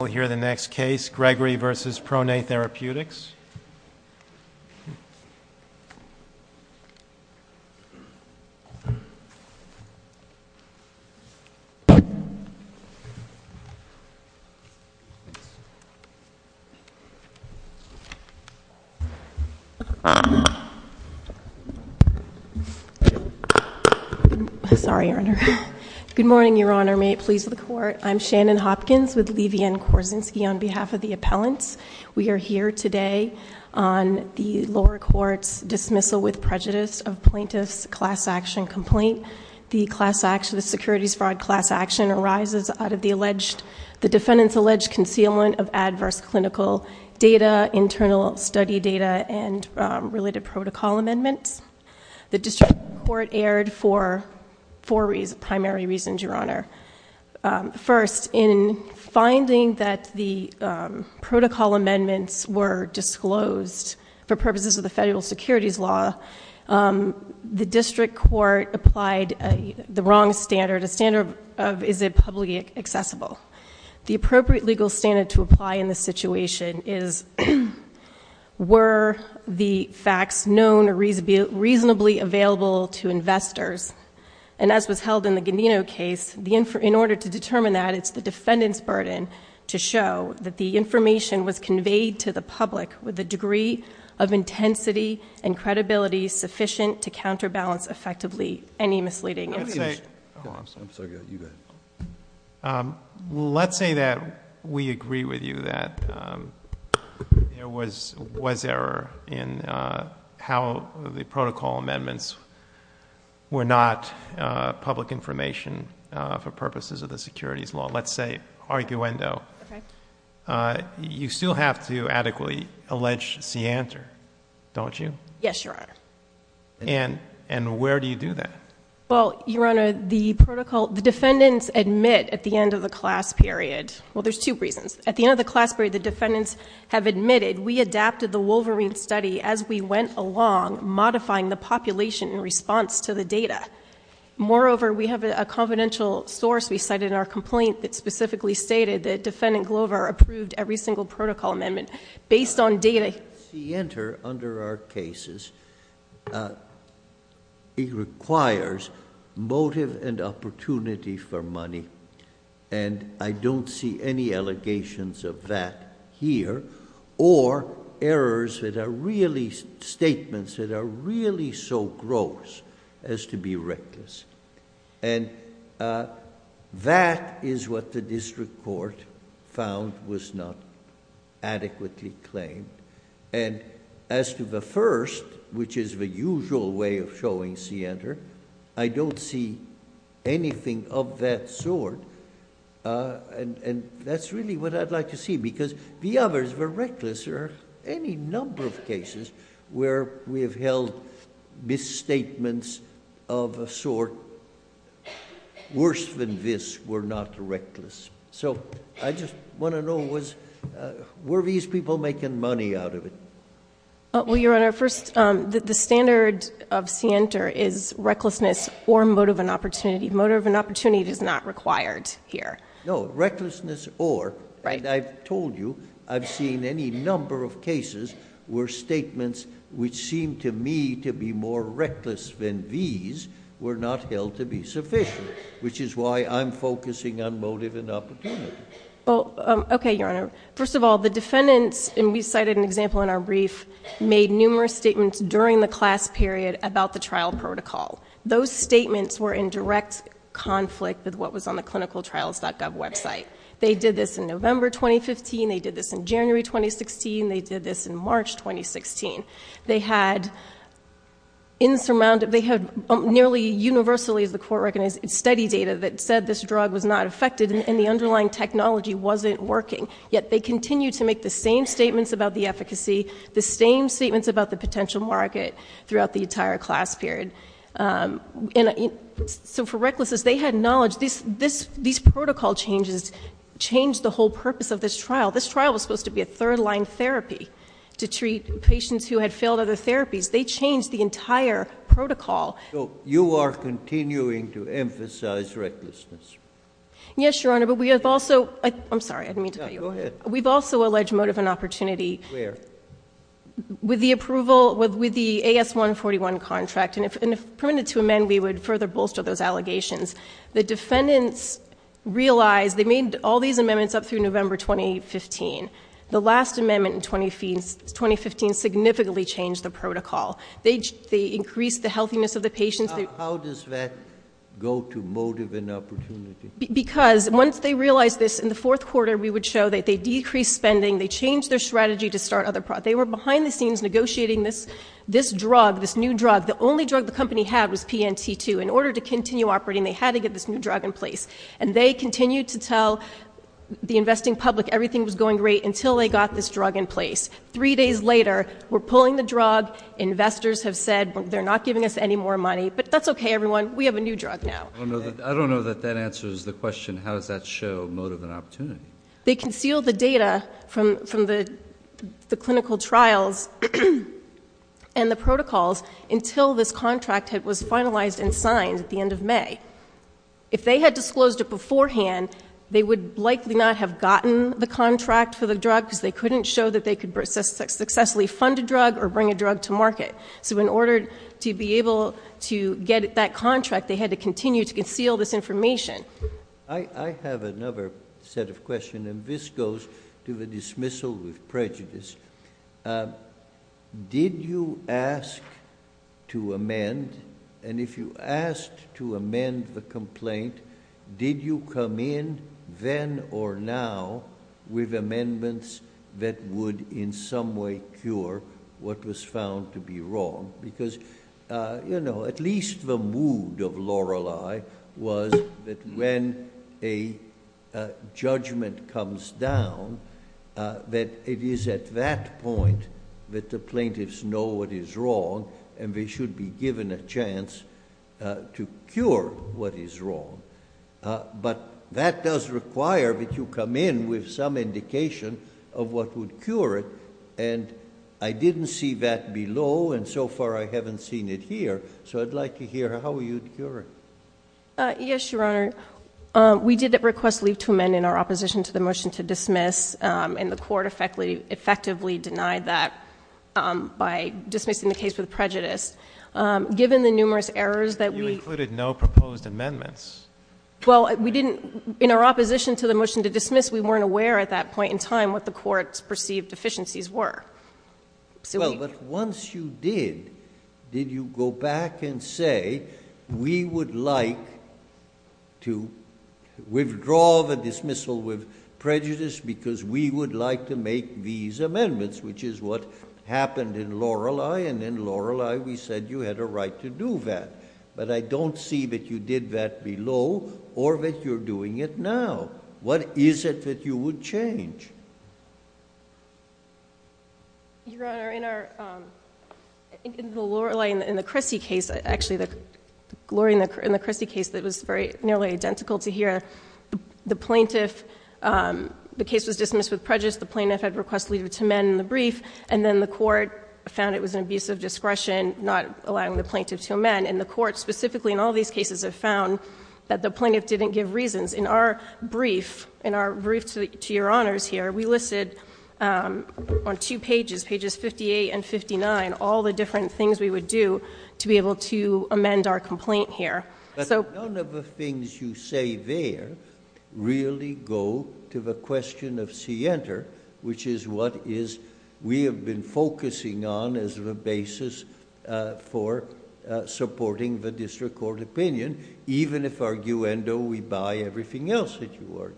We'll hear the next case, Gregory v. ProNAi Therapeutics. Sorry, Your Honor. Good morning, Your Honor. May it please the Court, I'm Shannon Hopkins with Levy & Korzinski on behalf of the appellants. We are here today on the lower court's dismissal with prejudice of plaintiff's class action complaint. The securities fraud class action arises out of the defendant's alleged concealment of adverse clinical data, internal study data, and related protocol amendments. The district court erred for four primary reasons, Your Honor. First, in finding that the protocol amendments were disclosed for purposes of the federal securities law, the district court applied the wrong standard, a standard of is it publicly accessible? The appropriate legal standard to apply in this situation is were the facts known or reasonably available to investors? And as was held in the Gandino case, in order to determine that it's the defendant's burden to show that the information was conveyed to the public with a degree of intensity and credibility sufficient to counterbalance effectively any misleading information. Let's say that we agree with you that there was error in how the protocol amendments were not public information for purposes of the securities law. Let's say, arguendo, you still have to adequately allege scienter, don't you? Yes, Your Honor. And where do you do that? Well, Your Honor, the protocol, the defendants admit at the end of the class period, well there's two reasons, at the end of the class period the defendants have admitted we adapted the Wolverine study as we went along, modifying the population in response to the data. Moreover, we have a confidential source we cited in our complaint that specifically stated that defendant Glover approved every single protocol amendment based on data. Under our cases, it requires motive and opportunity for money, and I don't see any allegations of that here, or errors that are really statements that are really so gross as to be reckless. That is what the district court found was not adequately claimed. As to the first, which is the usual way of showing scienter, I don't see anything of that sort. That's really what I'd like to see, because the others were reckless, or any number of cases where we have held misstatements of a sort worse than this were not reckless. I just want to know, were these people making money out of it? Well, Your Honor, first, the standard of scienter is recklessness or motive and opportunity. Motive and opportunity is not required here. No, recklessness or, and I've told you, I've seen any number of cases where statements which seem to me to be more reckless than these were not held to be sufficient, which is why I'm focusing on motive and opportunity. Okay, Your Honor. First of all, the defendants, and we cited an example in our brief, made numerous statements during the class period about the trial protocol. Those statements were in direct conflict with what was on the clinicaltrials.gov website. They did this in November 2015. They did this in January 2016. They did this in March 2016. They had insurmountable, they had nearly universally, as the Court recognized, study data that said this drug was not affected and the underlying technology wasn't working, yet they continued to make the same statements about the efficacy, the same statements about the potential market throughout the entire class period. So for recklessness, they had knowledge. These protocol changes changed the whole purpose of this trial. This trial was supposed to be a third-line therapy to treat patients who had failed other therapies. They changed the entire protocol. So you are continuing to emphasize recklessness? Yes, Your Honor, but we have also, I'm sorry, I didn't mean to cut you off. Yeah, go ahead. We've also alleged motive and opportunity. Where? With the approval, with the AS141 contract, and if permitted to amend, we would further bolster those allegations. The defendants realized, they made all these amendments up through November 2015. The last amendment in 2015 significantly changed the protocol. They increased the healthiness of the patients. How does that go to motive and opportunity? Because once they realized this in the fourth quarter, we would show that they decreased spending. They changed their strategy to start other products. They were behind the scenes negotiating this drug, this new drug. The only drug the company had was PNT2. In order to continue operating, they had to get this new drug in place. And they continued to tell the investing public everything was going great until they got this drug in place. Three days later, we're pulling the drug. Investors have said they're not giving us any more money. But that's okay, everyone. We have a new drug now. I don't know that that answers the question, how does that show motive and opportunity? They concealed the data from the clinical trials and the protocols until this contract was finalized and signed at the end of May. If they had disclosed it beforehand, they would likely not have gotten the contract for the drug because they couldn't show that they could successfully fund a drug or bring a drug to market. So in order to be able to get that contract, they had to continue to conceal this information. I have another set of questions, and this goes to the dismissal of prejudice. Did you ask to amend, and if you asked to amend the complaint, did you come in then or now with amendments that would in some way cure what was found to be wrong? Because at least the mood of when a judgment comes down that it is at that point that the plaintiffs know what is wrong and they should be given a chance to cure what is wrong. But that does require that you come in with some indication of what would cure it, and I didn't see that below and so far I haven't seen it here, so I'd like to hear how you'd cure it. Yes, Your Honor. We did request leave to amend in our opposition to the motion to dismiss, and the Court effectively denied that by dismissing the case with prejudice. Given the numerous errors that we... You included no proposed amendments. Well, we didn't... in our opposition to the motion to dismiss, we weren't aware at that point in time what the Court's perceived deficiencies were. Well, but once you did, did you go back and say, we would like to withdraw the dismissal with prejudice because we would like to make these amendments, which is what happened in Lorelei, and in Lorelei we said you had a right to do that. But I don't see that you did that below or that you're doing it now. What is it that you would change? Your Honor, in our... Actually, in the Christie case, it was nearly identical to here. The plaintiff... the case was dismissed with prejudice. The plaintiff had request leave to amend in the brief, and then the Court found it was an abuse of discretion, not allowing the plaintiff to amend. And the Court specifically in all these cases have found that the plaintiff didn't give reasons. In our brief, in our brief to Your Honors here, we listed on two pages, pages 58 and 59, all the different things we would do to be able to amend our complaint here. But none of the things you say there really go to the question of scienter, which is what is we have been focusing on as the basis for supporting the district court opinion, even if arguendo we buy everything else that you argue.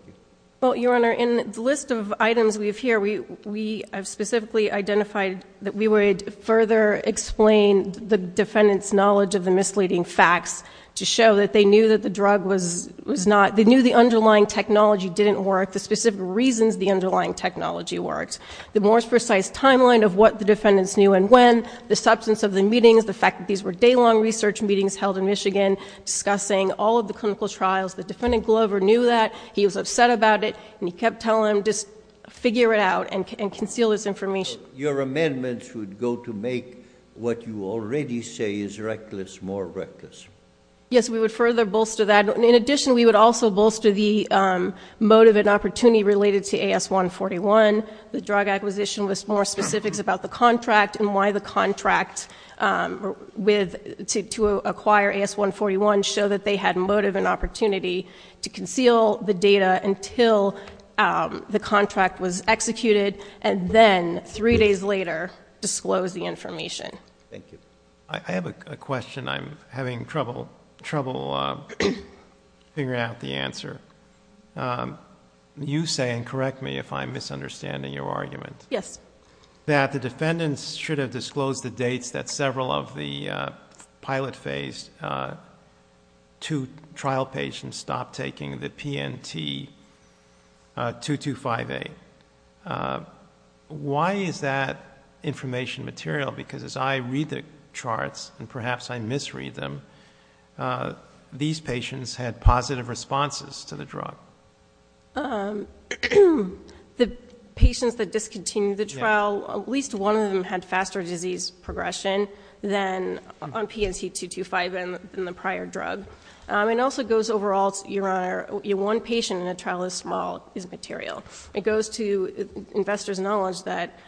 Well, Your Honor, in the list of items we have here, we have specifically identified that we would further explain the defendant's knowledge of the misleading facts to show that they knew that the drug was not... they knew the underlying technology didn't work, the specific reasons the underlying technology worked, the more precise timeline of what the defendants knew and when, the substance of the meetings, the fact that these were day-long research meetings held in Michigan discussing all of the clinical trials. The defendant, Glover, knew that. He was upset about it, and he kept telling them just figure it out and conceal this information. Your amendments would go to make what you already say is reckless more reckless. Yes, we would further bolster that. In addition, we would also bolster the motive and opportunity related to AS-141. The drug acquisition was more specifics about the contract and why the contract to acquire AS-141 showed that they had motive and opportunity to conceal the data until the trial, and then three days later disclose the information. I have a question I'm having trouble figuring out the answer. You say, and correct me if I'm misunderstanding your argument, that the defendants should have disclosed the dates that several of the pilot phase two trial patients stopped taking the PNT-2258. Why is that information material? Because as I read the charts, and perhaps I misread them, these patients had positive responses to the drug. The patients that discontinued the trial, at least one of them had faster disease progression than on PNT-2258 than the prior drug. It also goes overall, Your Honor, one patient in a trial as small is material. It goes to investors' knowledge that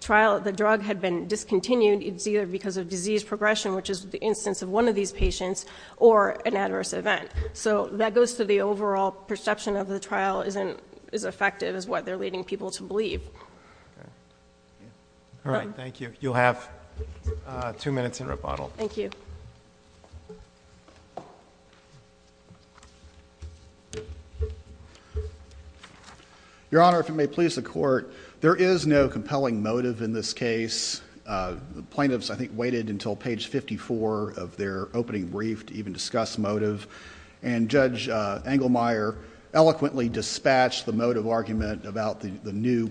the drug had been discontinued, it's either because of disease progression, which is the instance of one of these patients, or an adverse event. That goes to the overall perception of the trial isn't as effective as what they're leading people to believe. Thank you. You'll have two minutes in rebuttal. Your Honor, if you may please the Court, there is no compelling motive in this case. The plaintiffs, I think, waited until page 54 of their opening brief to even discuss motive, and Judge Engelmeyer eloquently dispatched the motive argument about the new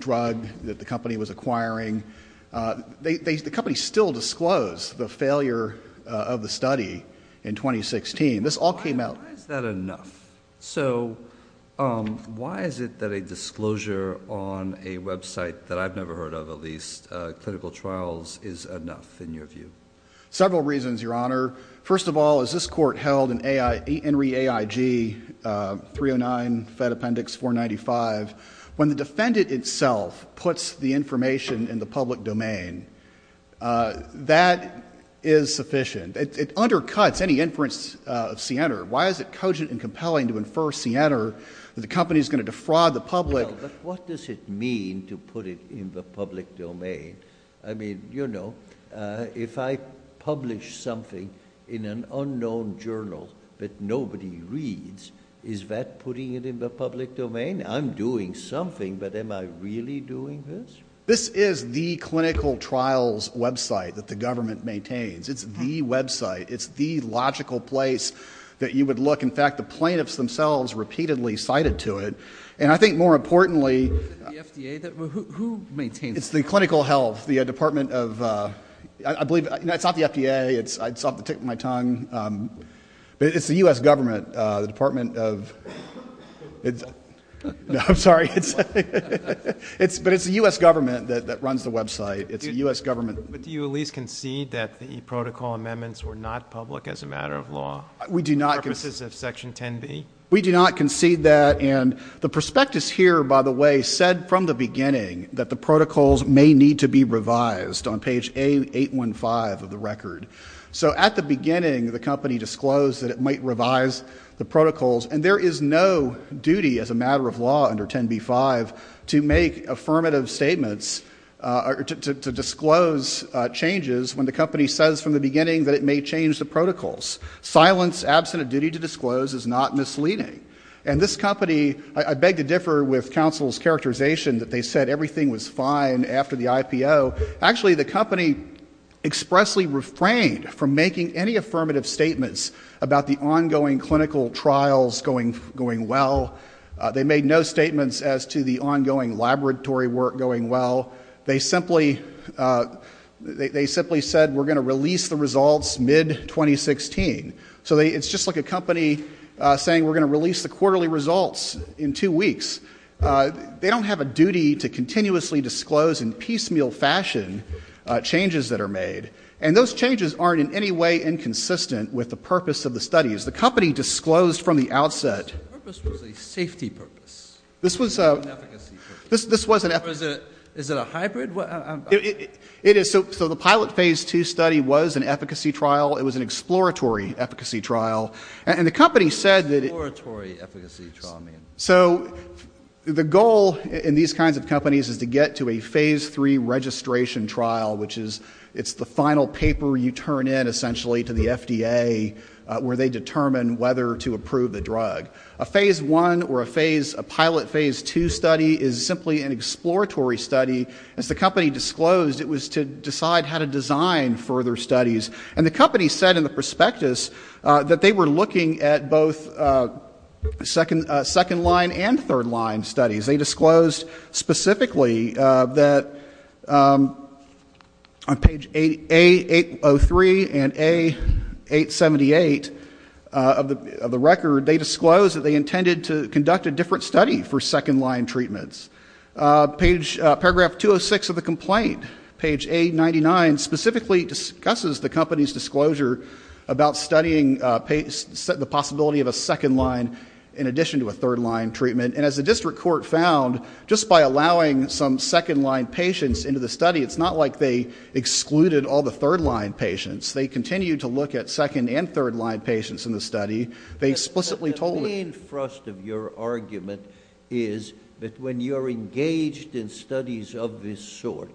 drug that the company was acquiring. The company still disclosed the failure of the study in 2016. This all came out... Why is that enough? So, why is it that a disclosure on a website that I've never heard of, at least, clinical trials is enough, in your view? Several reasons, Your Honor. First of all, as this Court held in ENRI AIG 309 Fed Appendix 495, when the defendant itself puts the information in the public domain, that is sufficient. It undercuts any inference of Siener. Why is it cogent and compelling to infer Siener that the company is going to defraud the public? Well, but what does it mean to put it in the public domain? I mean, you know, if I publish something in an unknown journal that nobody reads, is that putting it in the public domain? I'm doing something, but am I really doing this? This is the clinical trials website that the government maintains. It's the website. It's the logical place that you would look. In fact, the plaintiffs themselves repeatedly cited to it. And I think, more importantly... The FDA? Who maintains it? It's the clinical health. The Department of... I believe... It's not the FDA. It's off the tip of my tongue. But it's the U.S. government. The Department of... No, I'm sorry. But it's the U.S. government that runs the website. It's the U.S. government. But do you at least concede that the protocol amendments were not public as a matter of law? We do not concede that. And the prospectus here, by the way, said from the beginning that the protocols may need to be revised on page 815 of the record. So at the beginning, the company disclosed that it might revise the protocols. And there is no duty as a matter of law under 10b-5 to make affirmative statements or to disclose changes when the company says from the beginning that it may change the protocols. Silence, absent a duty to disclose is not misleading. And this company... I beg to differ with counsel's characterization that they said everything was fine after the IPO. Actually, the company expressly refrained from making any affirmative statements about the ongoing clinical trials going well. They made no statements as to the ongoing laboratory work going well. They simply said we're going to release the results mid-2016. So it's just like a company saying we're going to release the quarterly results in two weeks. They don't have a duty to continuously disclose in piecemeal fashion changes that are made. And those changes aren't in any way inconsistent with the purpose of the studies. The company disclosed from the outset... Is it a hybrid? So the pilot phase 2 study was an efficacy trial. It was an exploratory efficacy trial. And the company said... So the goal in these kinds of companies is to get to a phase 3 registration trial, which is the final paper you turn in essentially to the FDA where they determine whether to approve the drug. A phase 1 or a phase 2 is essentially an exploratory study. As the company disclosed, it was to decide how to design further studies. And the company said in the prospectus that they were looking at both second line and third line studies. They disclosed specifically that on page A803 and A878 of the record, they disclosed that they intended to conduct a different study for second line treatments. Paragraph 206 of the complaint, page A99, specifically discusses the company's disclosure about studying the possibility of a second line in addition to a third line treatment. And as the district court found, just by allowing some second line patients into the study, it's not like they excluded all the third line patients. They continued to look at second and third line patients in the study. They explicitly told... The main thrust of your argument is that when you're engaged in studies of this sort,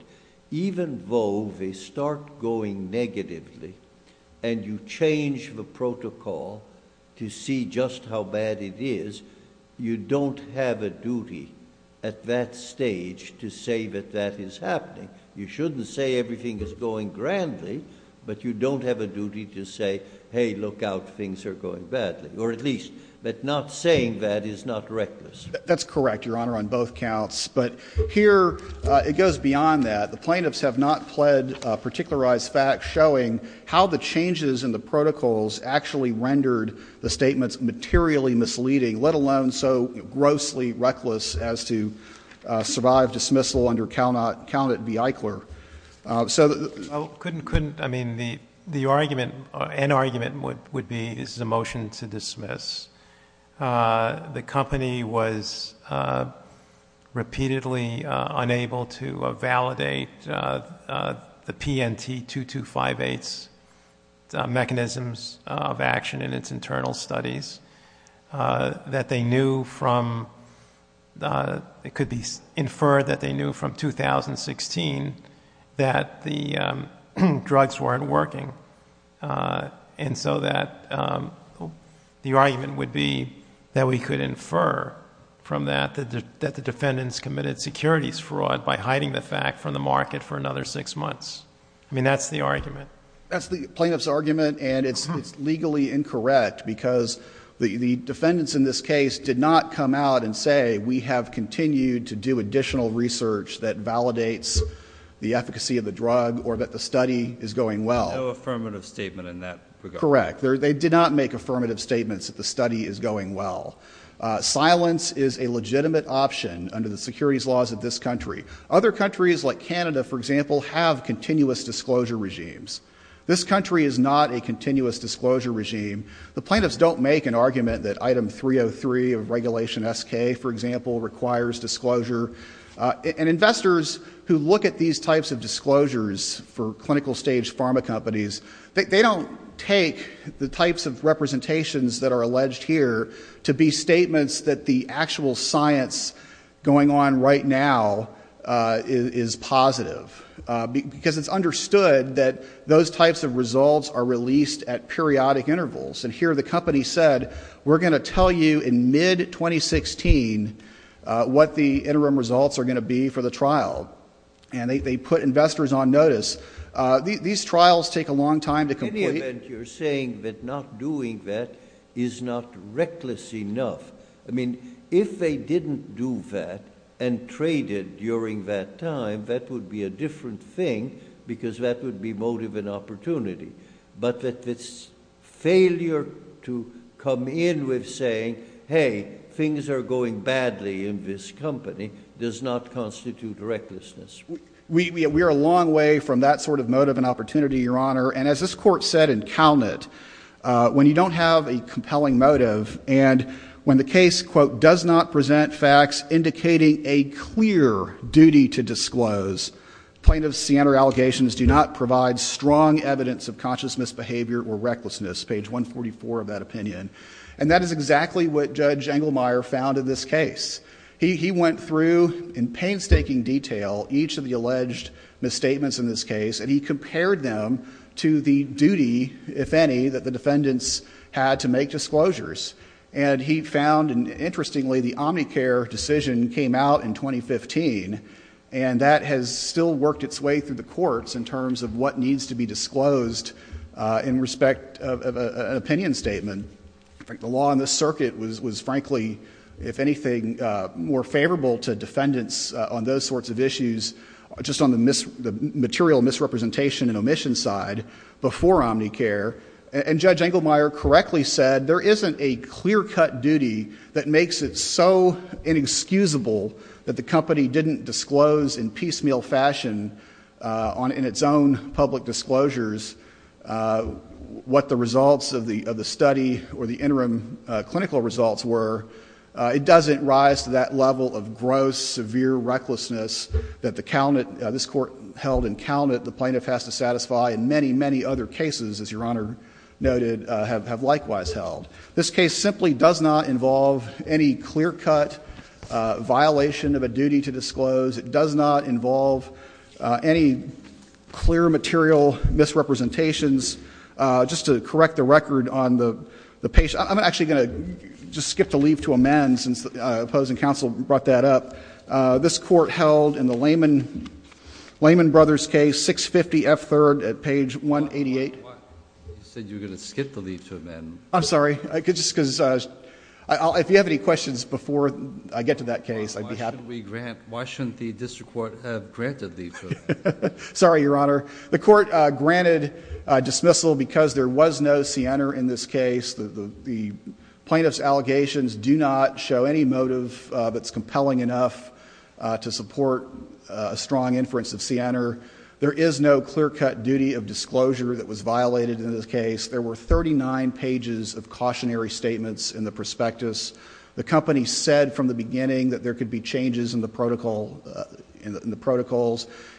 even though they start going negatively and you change the protocol to see just how bad it is, you don't have a duty at that stage to say that that is happening. You shouldn't say everything is going grandly, but you don't have a duty to say, hey, look out, things are going badly, or at least that not saying that is not reckless. That's correct, Your Honor, on both counts. But here, it goes beyond that. The plaintiffs have not pled particularized facts showing how the changes in the protocols actually rendered the statements materially misleading, let alone so grossly reckless as to survive dismissal under count it be Eichler. Couldn't, I mean, the argument, an argument would be this is a motion to dismiss. The company was repeatedly unable to validate the PNT-2258's mechanisms of action in its internal studies. That they knew from, it could be inferred that they knew from 2016 that the and so that the argument would be that we could infer from that that the defendants committed securities fraud by hiding the fact from the market for another six months. I mean, that's the argument. That's the plaintiff's argument, and it's legally incorrect because the defendants in this case did not come out and say, we have continued to do additional research that validates the efficacy of the drug or that the study is going well. No affirmative statement in that regard. Correct. They did not make affirmative statements that the study is going well. Silence is a legitimate option under the securities laws of this country. Other countries like Canada, for example, have continuous disclosure regimes. This country is not a continuous disclosure regime. The plaintiffs don't make an argument that item 303 of regulation SK, for example, requires disclosure. And investors who look at these types of disclosures for clinical stage pharma companies, they don't take the types of representations that are alleged here to be statements that the actual science going on right now is positive because it's understood that those types of results are released at periodic intervals. And here the company said, we're going to tell you in mid 2016 what the interim results are going to be for the investors on notice. These trials take a long time to complete. In any event, you're saying that not doing that is not reckless enough. I mean, if they didn't do that and traded during that time, that would be a different thing because that would be motive and opportunity. But that this failure to come in with saying, hey, things are going badly in this company does not constitute recklessness. We are a long way from that sort of motive and opportunity, Your Honor. And as this Court said in Calnet, when you don't have a compelling motive and when the case, quote, does not present facts indicating a clear duty to disclose, plaintiff's Siena allegations do not provide strong evidence of conscious misbehavior or recklessness, page 144 of that opinion. And that is exactly what Judge Engelmeyer found in this case. He looked at in detail each of the alleged misstatements in this case and he compared them to the duty, if any, that the defendants had to make disclosures. And he found, interestingly, the Omnicare decision came out in 2015 and that has still worked its way through the courts in terms of what needs to be disclosed in respect of an opinion statement. The law in this circuit was frankly, if anything, more sensitive issues just on the material misrepresentation and omission side before Omnicare. And Judge Engelmeyer correctly said there isn't a clear-cut duty that makes it so inexcusable that the company didn't disclose in piecemeal fashion in its own public disclosures what the results of the study or the interim clinical results were. It doesn't rise to that level of gross, severe recklessness that this Court held in Calnet the plaintiff has to satisfy in many, many other cases, as Your Honor noted, have likewise held. This case simply does not involve any clear-cut violation of a duty to disclose. It does not involve any clear material misrepresentations. Just to correct the record on the patient, I'm actually going to just skip to leave to amend since the opposing counsel brought that up. This Court held in the Lehman Brothers case, 650 F. 3rd at page 188. You said you were going to skip to leave to amend. I'm sorry. If you have any questions before I get to that case, I'd be happy. Why shouldn't the district court have granted leave to amend? Sorry, Your Honor. The Court granted dismissal because there was no siener in this case. The plaintiff's allegations do not show any motive that's compelling enough to support a strong inference of siener. There is no clear-cut duty of disclosure that was violated in this case. There were 39 pages of cautionary statements in the prospectus. The company said from the beginning that there could be changes in the protocols.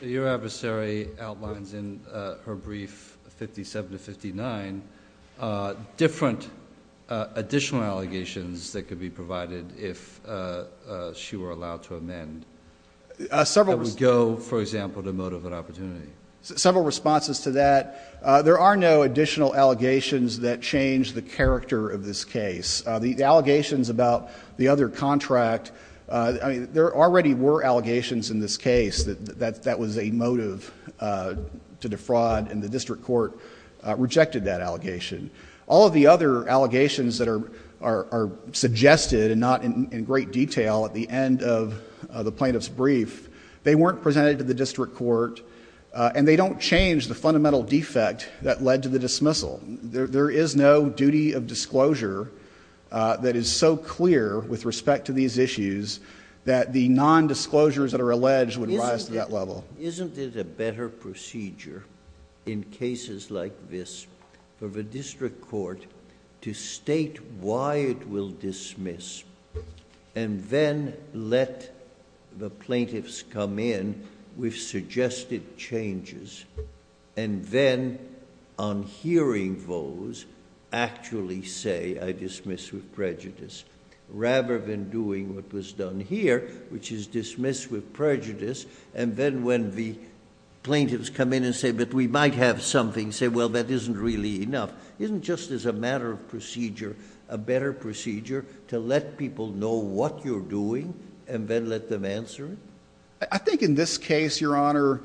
Your adversary outlines in her brief, 57 to 59, different additional allegations that could be provided if she were allowed to amend. That would go, for example, to motive and opportunity. Several responses to that. There are no additional allegations that change the character of this case. The allegations about the other contract, there already were allegations in this case that that was a motive to defraud and the other allegations that are suggested and not in great detail at the end of the plaintiff's brief, they weren't presented to the district court and they don't change the fundamental defect that led to the dismissal. There is no duty of disclosure that is so clear with respect to these issues that the non-disclosures that are alleged would rise to that level. Isn't it a better procedure in cases like this for the district court to state why it will dismiss and then let the plaintiffs come in with suggested changes and then on hearing those actually say, I dismiss with prejudice rather than doing what was done here which is dismiss with prejudice and then when the plaintiffs hear something say, well, that isn't really enough. Isn't just as a matter of procedure a better procedure to let people know what you're doing and then let them answer it? I think in this case, Your Honor,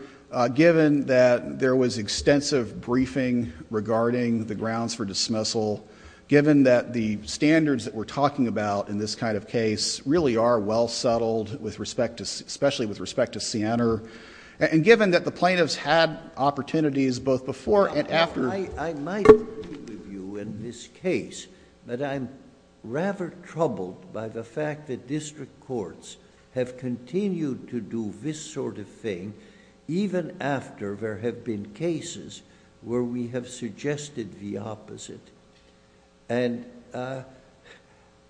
given that there was extensive briefing regarding the grounds for dismissal, given that the standards that we're talking about in this kind of case really are well settled especially with respect to Siena and given that the plaintiffs had opportunities both before and after...... I might agree with you in this case, but I'm rather troubled by the fact that district courts have continued to do this sort of thing even after there have been cases where we have suggested the opposite.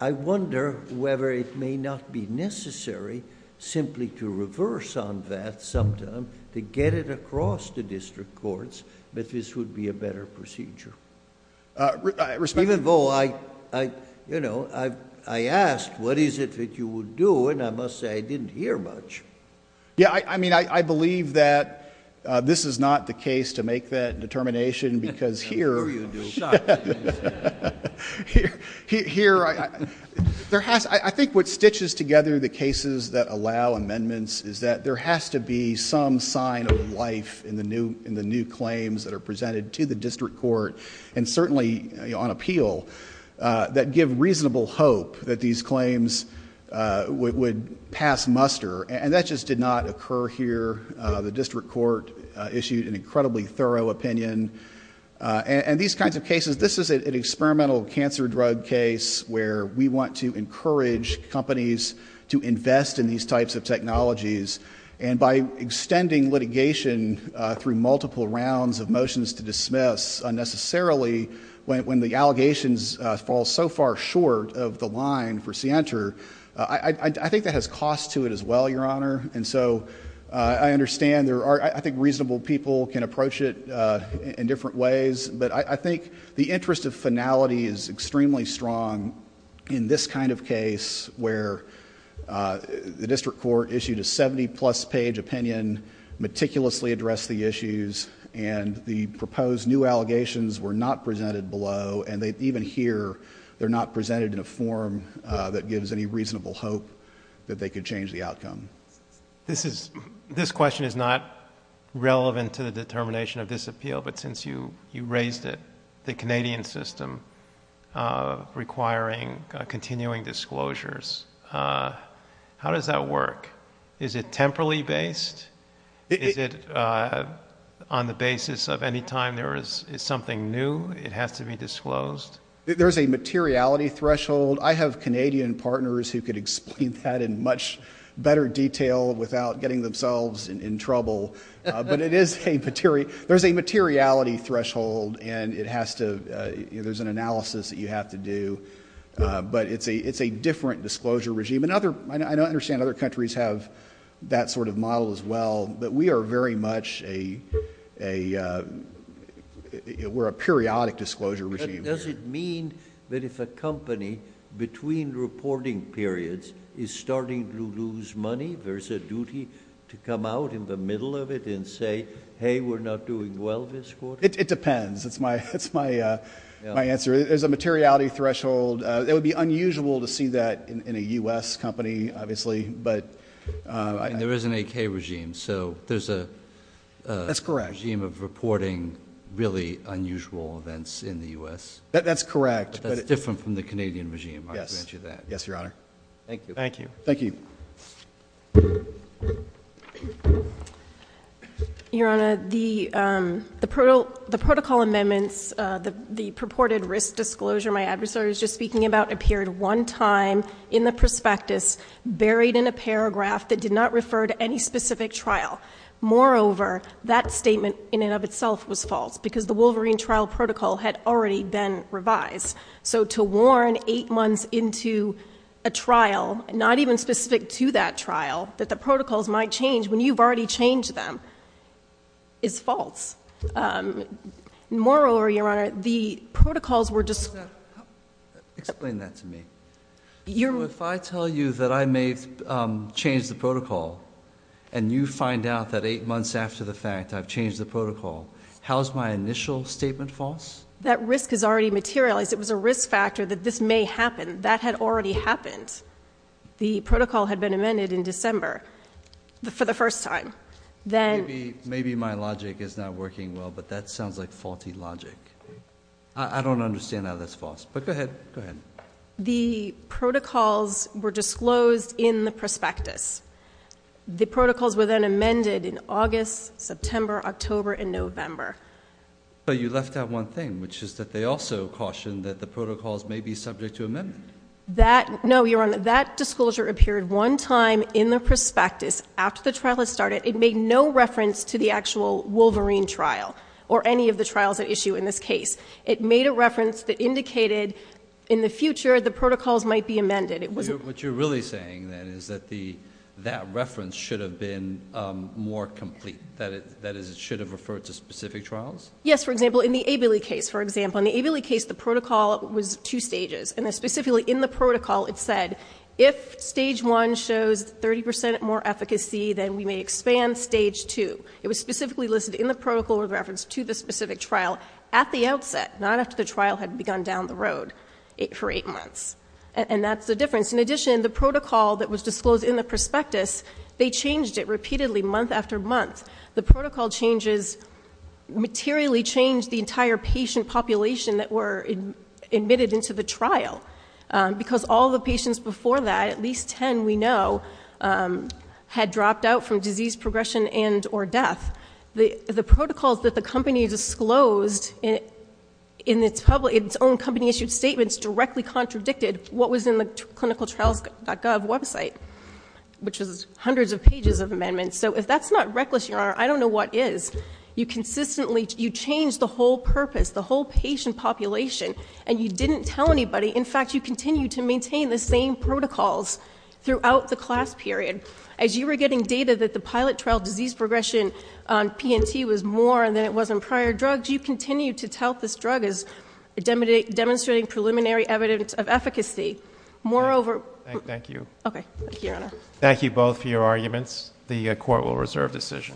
I wonder whether it may not be necessary simply to reverse on that sometime to get it across to district courts that this would be a better procedure. Even though I asked what is it that you would do and I must say I didn't hear much. I believe that this is not the case to make that determination because here... I'm sure you do. I think what stitches together the cases that allow amendments is that there has to be some sign of life in the new claims that are presented to the district court and certainly on appeal that give reasonable hope that these claims would pass muster. That just did not occur here. The district court issued an incredibly thorough opinion. These kinds of cases... this is an experimental cancer drug case where we want to encourage companies to invest in these types of technologies and by extending litigation through multiple rounds of motions to dismiss unnecessarily when the allegations fall so far short of the line for scienter, I think that has cost to it as well, Your Honor. I understand... I think reasonable people can approach it in different ways, but I think the interest of finality is extremely strong in this kind of case where the district court issued a seventy-plus page opinion, meticulously addressed the issues and the proposed new allegations were not presented below and even here, they're not presented in a form that gives any reasonable hope that they could change the outcome. This question is not relevant to the determination of this appeal, but since you raised it, the Canadian system requires continuing disclosures. How does that work? Is it temporally based? Is it on the basis of any time there is something new, it has to be disclosed? There's a materiality threshold. I have Canadian partners who could explain that in much better detail without getting themselves in trouble, but there's a materiality threshold and it has to... there's an analysis that you have to do, but it's a different disclosure regime. I understand other countries have that sort of model as well, but we are very much a... we're a periodic disclosure regime. Does it mean that if a company, between reporting periods, is starting to lose money, there's a duty to come out in the middle of it and say, hey, we're not doing well this year. That's my answer. There's a materiality threshold. It would be unusual to see that in a U.S. company, obviously, but... And there is an AK regime, so there's a... That's correct.... regime of reporting really unusual events in the U.S. That's correct. That's different from the Canadian regime, I'll grant you that. Yes, Your Honor. Thank you. Thank you. Thank you. Your Honor, the purported risk disclosure my adversary was just speaking about appeared one time in the prospectus, buried in a paragraph that did not refer to any specific trial. Moreover, that statement in and of itself was false, because the Wolverine trial protocol had already been revised. So to warn eight months into a trial, not even specific to that trial, that the protocols might change when you've already changed them, is false. Moreover, Your Honor, the protocols were just... Explain that to me. If I tell you that I may change the protocol, and you find out that eight months after the fact I've changed the protocol, how is my initial statement false? That risk has already materialized. It was a risk factor that this may happen. That had already happened. The protocol had been amended in December, for the first time. Then... Maybe my logic is not working well, but that sounds like faulty logic. I don't understand how that's false. But go ahead. The protocols were disclosed in the prospectus. The protocols were then amended in August, September, October, and November. But you left out one thing, which is that they also cautioned that the protocols may be subject to amendment. No, Your Honor. That disclosure appeared one time in the prospectus, after the trial had started. It made no reference to the actual Wolverine trial, or any of the trials at issue in this case. It made a reference that indicated, in the future, the protocols might be amended. What you're really saying, then, is that that reference should have been more complete. That is, it should have referred to specific trials? Yes. For example, in the Abelli case. In the Abelli case, the protocol was two stages. Specifically, in the protocol, it said, if stage one shows 30% more efficacy, then we may expand stage two. It was specifically listed in the protocol, with reference to the specific trial, at the outset, not after the trial had begun down the road, for eight months. And that's the difference. In addition, the protocol that was disclosed in the prospectus, they changed it repeatedly, month after month. The protocol changes materially changed the entire patient population that were admitted into the trial. Because all the patients before that, at least 10 we know, had dropped out from disease progression and or death. The protocols that the company disclosed in its own company-issued statements directly contradicted what was in the clinicaltrials.gov website, which was hundreds of pages of amendments. So, if that's not reckless, Your Honor, I don't know what is. You changed the whole purpose, the whole patient population, and you didn't tell anybody. In fact, you continued to maintain the same protocols throughout the class period. As you were getting data that the pilot trial disease progression on PNT was more than it was on prior drugs, you continued to tout this drug as demonstrating preliminary evidence of efficacy. Moreover... Thank you. Thank you, Your Honor. Thank you both for your arguments. The Court will reserve decision.